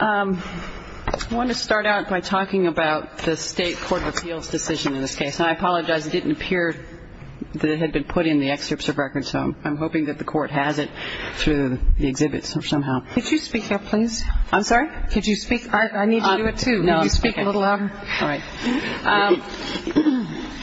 I want to start out by talking about the State Court of Appeals decision in this case. And I apologize, it didn't appear that it had been put in the excerpts of records, so I'm hoping that the Court has it through the exhibit somehow. Could you speak up, please? I'm sorry? Could you speak? I need you to do it, too. No, I'm okay. Could you speak a little louder? All right.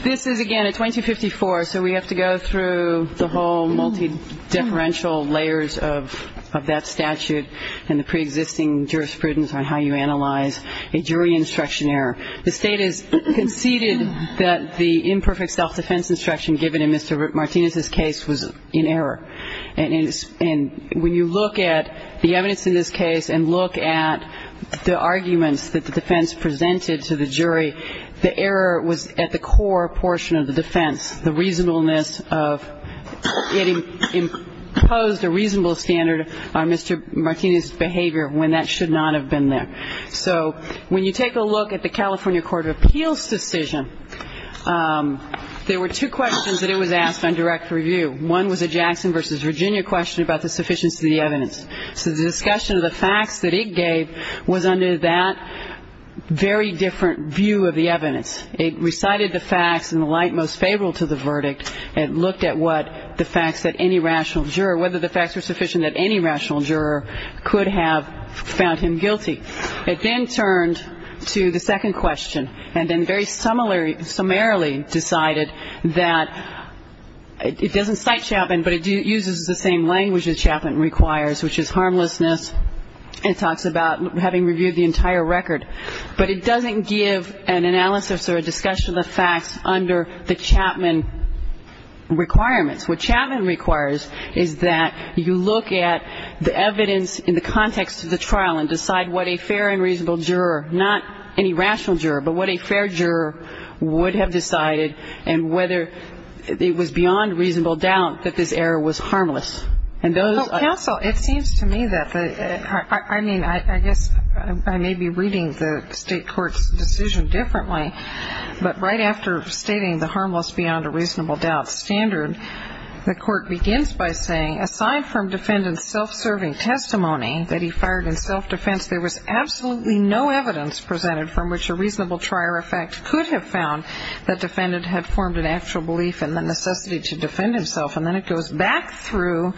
This is, again, a 2254, so we have to go through the whole multidifferential layers of that statute and the preexisting jurisprudence on how you analyze a jury instruction error. The State has conceded that the imperfect self-defense instruction given in Mr. Martinez's case was in error. And when you look at the evidence in this case and look at the arguments that the defense presented to the jury, the error was at the core portion of the defense, the reasonableness of it imposed a reasonable standard on Mr. Martinez's behavior when that should not have been there. So when you take a look at the California Court of Appeals decision, there were two questions that it was asked on direct review. One was a Jackson v. Virginia question about the sufficiency of the evidence. So the discussion of the facts that it gave was under that very different view of the evidence. It recited the facts in the light most favorable to the verdict. It looked at what the facts that any rational juror, whether the facts were sufficient that any rational juror could have found him guilty. It then turned to the second question and then very summarily decided that it doesn't cite Chapman, but it uses the same language that Chapman requires, which is harmlessness. It talks about having reviewed the entire record. But it doesn't give an analysis or a discussion of the facts under the Chapman requirements. What Chapman requires is that you look at the evidence in the context of the trial and decide what a fair and reasonable juror, not any rational juror, but what a fair juror would have decided, and whether it was beyond reasonable doubt that this error was harmless. And those are- Counsel, it seems to me that the, I mean, I guess I may be reading the state court's decision differently. But right after stating the harmless beyond a reasonable doubt standard, the court begins by saying, aside from defendant's self-serving testimony that he fired in self-defense, there was absolutely no evidence presented from which a reasonable trier of facts could have found that defendant had formed an actual belief in the necessity to defend himself. And then it goes back through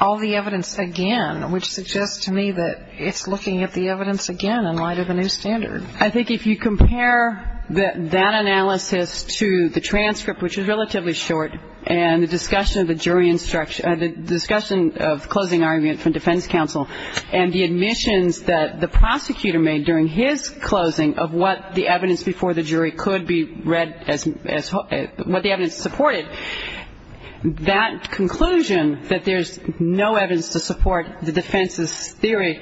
all the evidence again, which suggests to me that it's looking at the evidence again in light of a new standard. I think if you compare that analysis to the transcript, which is relatively short, and the discussion of the jury instruction, the discussion of closing argument from defense counsel, and the admissions that the prosecutor made during his closing of what the evidence before the jury could be read as, what the evidence supported, that conclusion that there's no evidence to support the defense's theory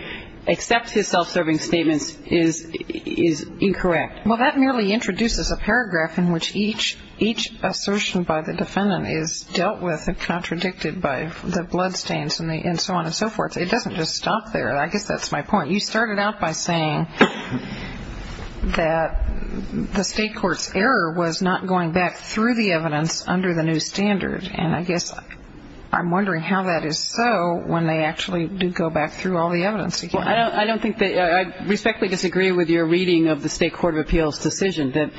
except his self-serving statements is incorrect. Well, that merely introduces a paragraph in which each assertion by the defendant is dealt with and contradicted by the bloodstains and so on and so forth. It doesn't just stop there. I guess that's my point. You started out by saying that the state court's error was not going back through the evidence under the new standard. And I guess I'm wondering how that is so when they actually do go back through all the evidence again. Well, I don't think that – I respectfully disagree with your reading of the State Court of Appeals' decision, that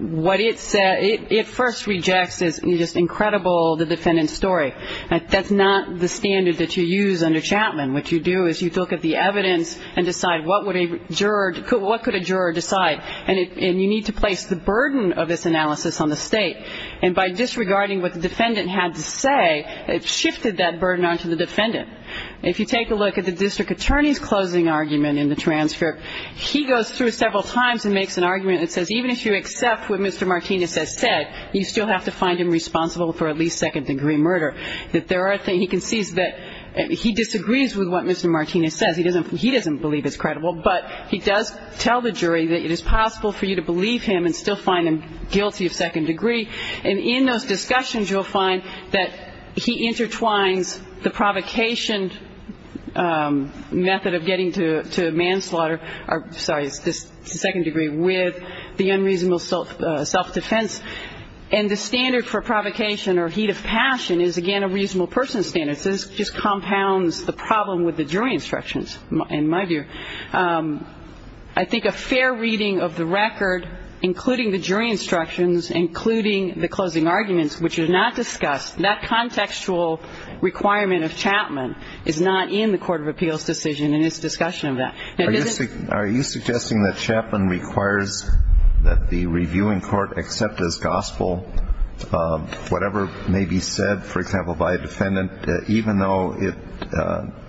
what it first rejects is just incredible, the defendant's story. That's not the standard that you use under Chapman. What you do is you look at the evidence and decide what would a juror – what could a juror decide. And you need to place the burden of this analysis on the state. And by disregarding what the defendant had to say, it shifted that burden onto the defendant. If you take a look at the district attorney's closing argument in the transcript, he goes through several times and makes an argument that says even if you accept what Mr. Martinez has said, you still have to find him responsible for at least second-degree murder. That there are – he concedes that – he disagrees with what Mr. Martinez says. He doesn't – he doesn't believe it's credible. But he does tell the jury that it is possible for you to believe him and still find him guilty of second degree. And in those discussions, you'll find that he intertwines the provocation method of getting to manslaughter – sorry, it's the second degree – with the unreasonable self-defense. And the standard for provocation or heat of passion is, again, a reasonable person standard. So this just compounds the problem with the jury instructions, in my view. I think a fair reading of the record, including the jury instructions, including the closing arguments, which are not discussed, that contextual requirement of Chapman is not in the Court of Appeals' decision in its discussion of that. Are you suggesting that Chapman requires that the reviewing court accept as gospel whatever may be said, for example, by a defendant, even though it –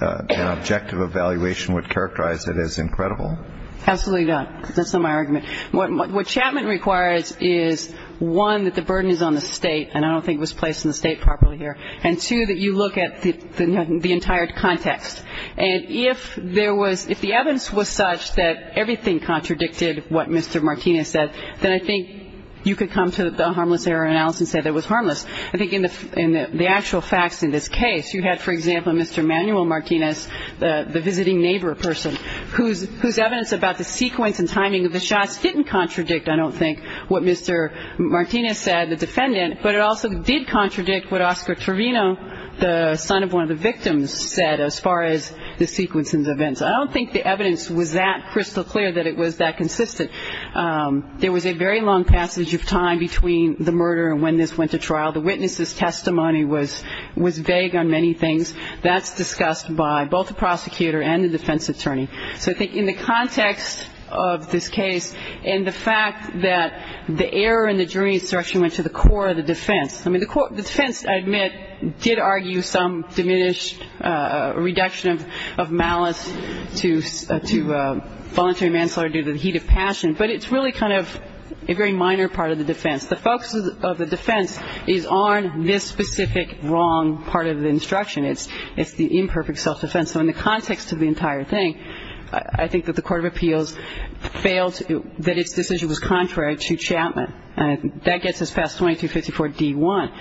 an objective evaluation would characterize it as incredible? Absolutely not. That's not my argument. What Chapman requires is, one, that the burden is on the State – and I don't think it was placed on the State properly here – and, two, that you look at the entire context. And if there was – if the evidence was such that everything contradicted what Mr. Martinez said, then I think you could come to the harmless error analysis and say that it was harmless. I think in the actual facts in this case, you had, for example, Mr. Manuel Martinez, the visiting neighbor person, whose evidence about the sequence and timing of the shots didn't contradict, I don't think, what Mr. Martinez said, the defendant, but it also did contradict what Oscar Trevino, the son of one of the victims, said as far as the sequence and the events. I don't think the evidence was that crystal clear that it was that consistent. There was a very long passage of time between the murder and when this went to trial. The witness's testimony was vague on many things. That's discussed by both the prosecutor and the defense attorney. So I think in the context of this case and the fact that the error in the jury's instruction went to the core of the defense – I mean, the defense, I admit, did argue some diminished reduction of malice to voluntary manslaughter due to the heat of passion, but it's really kind of a very minor part of the defense. The focus of the defense is on this specific wrong part of the instruction. It's the imperfect self-defense. So in the context of the entire thing, I think that the Court of Appeals failed – that its decision was contrary to Chapman. And that gets us past 2254d-1.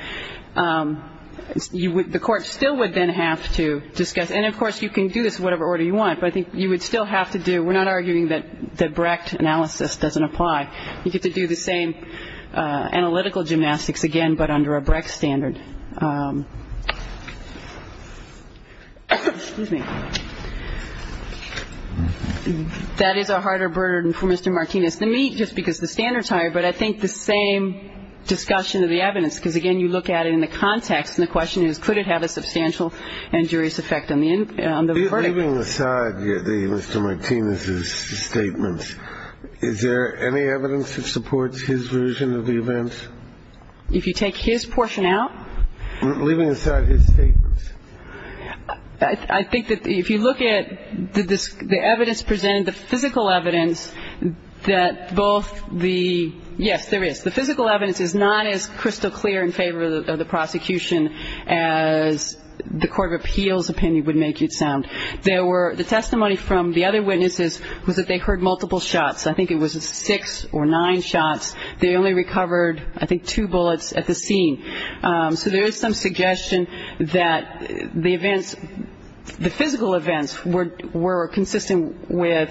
The Court still would then have to discuss – and, of course, you can do this in whatever order you want, but I think you would still have to do – we're not arguing that the Brecht analysis doesn't apply. You get to do the same analytical gymnastics again, but under a Brecht standard. Excuse me. That is a harder burden for Mr. Martinez than me, just because the standards are higher, but I think the same discussion of the evidence, because, again, you look at it in the context, and the question is, could it have a substantial injurious effect on the verdict? You're leaving aside Mr. Martinez's statements. Is there any evidence that supports his version of the events? If you take his portion out? Leaving aside his statements. I think that if you look at the evidence presented, the physical evidence, that both the – yes, there is. The physical evidence is not as crystal clear in favor of the prosecution as the Court of Appeals opinion would make it sound. There were – the testimony from the other witnesses was that they heard multiple shots. I think it was six or nine shots. They only recovered, I think, two bullets at the scene. So there is some suggestion that the events – the physical events were consistent with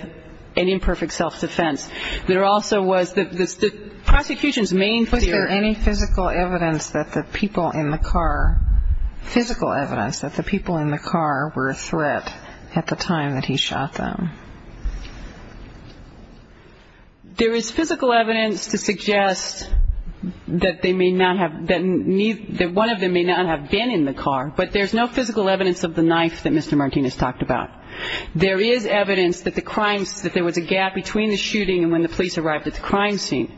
an imperfect self-defense. There also was – the prosecution's main theory – Was there any physical evidence that the people in the car – physical evidence that the people in the car were a threat at the time that he shot them? There is physical evidence to suggest that they may not have – that one of them may not have been in the car. But there's no physical evidence of the knife that Mr. Martinez talked about. There is evidence that the crimes – that there was a gap between the shooting and when the police arrived at the crime scene.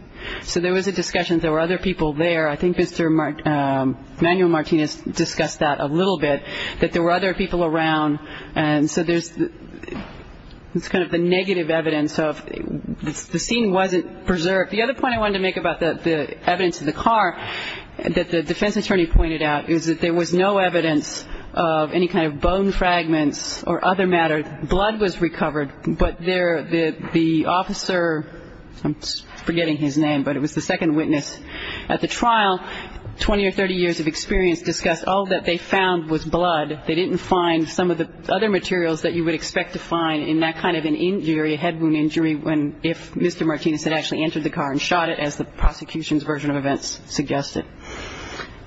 So there was a discussion that there were other people there. I think Mr. Emmanuel Martinez discussed that a little bit, that there were other people around. And so there's – it's kind of the negative evidence of – the scene wasn't preserved. The other point I wanted to make about the evidence in the car that the defense attorney pointed out is that there was no evidence of any kind of bone fragments or other matter. Blood was recovered, but there – the officer – I'm forgetting his name, but it was the second witness. At the trial, 20 or 30 years of experience discussed all that they found was blood. They didn't find some of the other materials that you would expect to find in that kind of an injury, a head wound injury, if Mr. Martinez had actually entered the car and shot it as the prosecution's version of events suggested.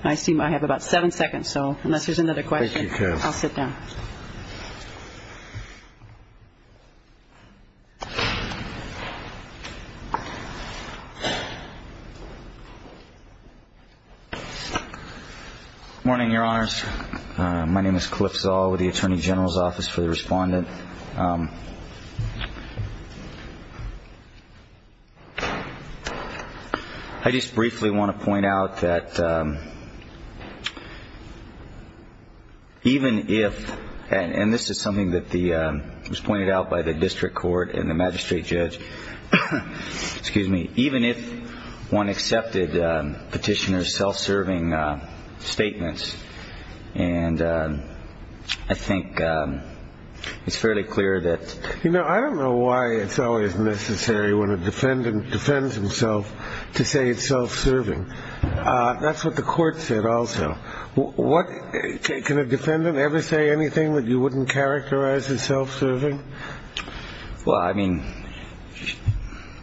I seem to have about seven seconds, so unless there's another question, I'll sit down. Good morning, Your Honors. My name is Cliff Zoll with the Attorney General's Office for the Respondent. I just briefly want to point out that even if – and this is something that the – the magistrate judge – excuse me – even if one accepted petitioner's self-serving statements, and I think it's fairly clear that – You know, I don't know why it's always necessary when a defendant defends himself to say it's self-serving. That's what the court said also. What – can a defendant ever say anything that you wouldn't characterize as self-serving? Well, I mean,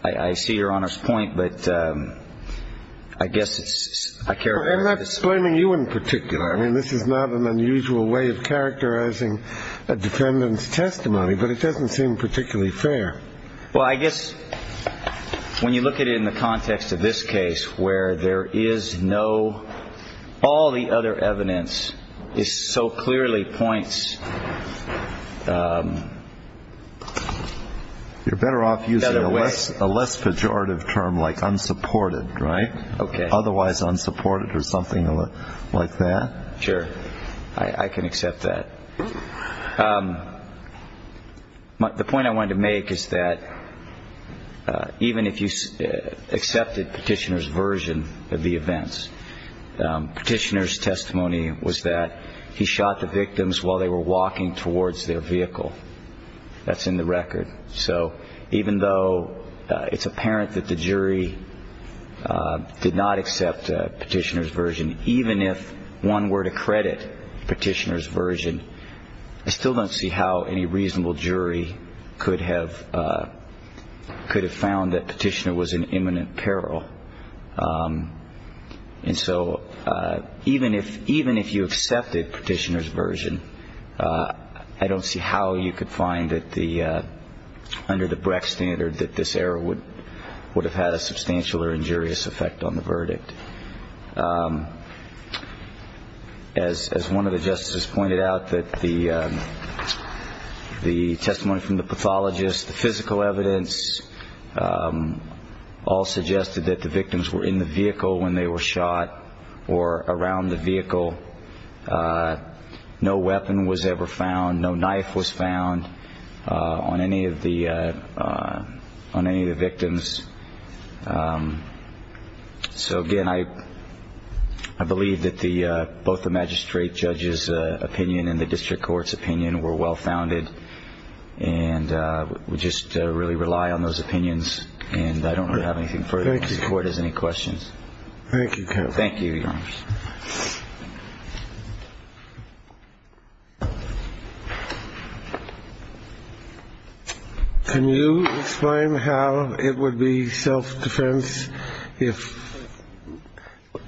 I see Your Honor's point, but I guess it's – I'm not blaming you in particular. I mean, this is not an unusual way of characterizing a defendant's testimony, but it doesn't seem particularly fair. Well, I guess when you look at it in the context of this case where there is no – this so clearly points – You're better off using a less pejorative term like unsupported. Right, okay. Otherwise unsupported or something like that. Sure. I can accept that. The point I wanted to make is that even if you accepted petitioner's version of the events, petitioner's testimony was that he shot the victims while they were walking towards their vehicle. That's in the record. So even though it's apparent that the jury did not accept petitioner's version, even if one were to credit petitioner's version, I still don't see how any reasonable jury could have found that petitioner was in imminent peril. And so even if you accepted petitioner's version, I don't see how you could find that under the Brecht standard that this error would have had a substantial As one of the justices pointed out, the testimony from the pathologist, the physical evidence, all suggested that the victims were in the vehicle when they were shot or around the vehicle. No weapon was ever found. So, again, I believe that both the magistrate judge's opinion and the district court's opinion were well-founded. And we just really rely on those opinions. And I don't really have anything further. The court has any questions. Thank you. Thank you. Thank you, Your Honor. Can you explain how it would be self-defense if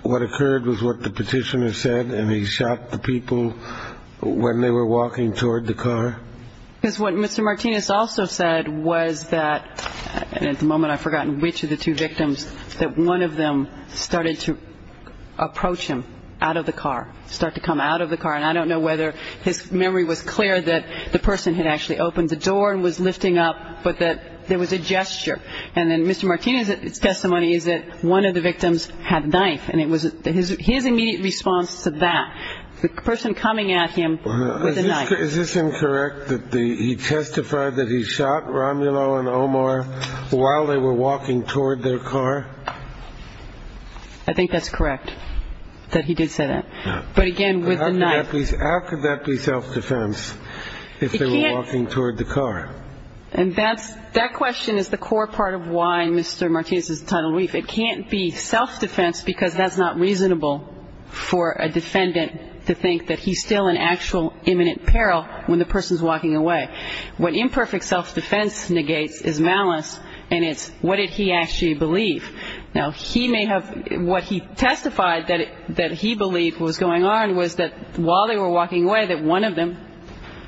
what occurred was what the petitioner said and he shot the people when they were walking toward the car? Because what Mr. Martinez also said was that, and at the moment I've forgotten which of the two victims, that one of them started to approach him out of the car, start to come out of the car. And I don't know whether his memory was clear that the person had actually opened the door and was lifting up, but that there was a gesture. And then Mr. Martinez's testimony is that one of the victims had a knife. And it was his immediate response to that, the person coming at him with a knife. Is this incorrect that he testified that he shot Romulo and Omar while they were walking toward their car? I think that's correct, that he did say that. But again, with the knife. How could that be self-defense if they were walking toward the car? And that question is the core part of why Mr. Martinez is entitled to leave. It can't be self-defense because that's not reasonable for a defendant to think that he's still in actual imminent peril when the person's walking away. What imperfect self-defense negates is malice, and it's what did he actually believe. Now, he may have, what he testified that he believed was going on was that while they were walking away, that one of them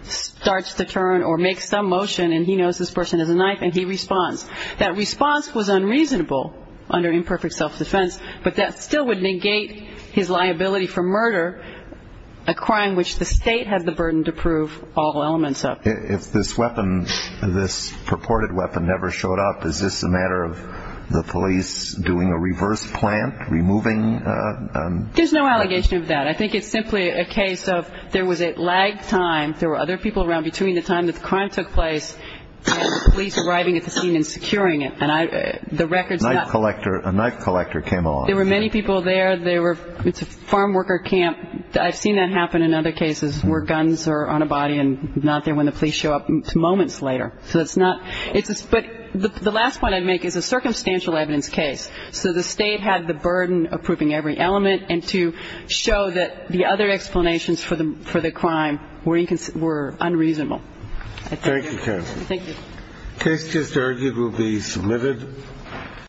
starts to turn or make some motion and he knows this person has a knife and he responds. That response was unreasonable under imperfect self-defense, but that still would negate his liability for murder, a crime which the State has the burden to prove all elements of. If this weapon, this purported weapon never showed up, is this a matter of the police doing a reverse plant, removing? There's no allegation of that. I think it's simply a case of there was a lag time, there were other people around between the time that the crime took place and the police arriving at the scene and securing it. A knife collector came along. There were many people there. It's a farm worker camp. I've seen that happen in other cases where guns are on a body and not there when the police show up moments later. But the last point I'd make is a circumstantial evidence case. So the State had the burden of proving every element and to show that the other explanations for the crime were unreasonable. Thank you, counsel. Thank you. The case just argued will be submitted.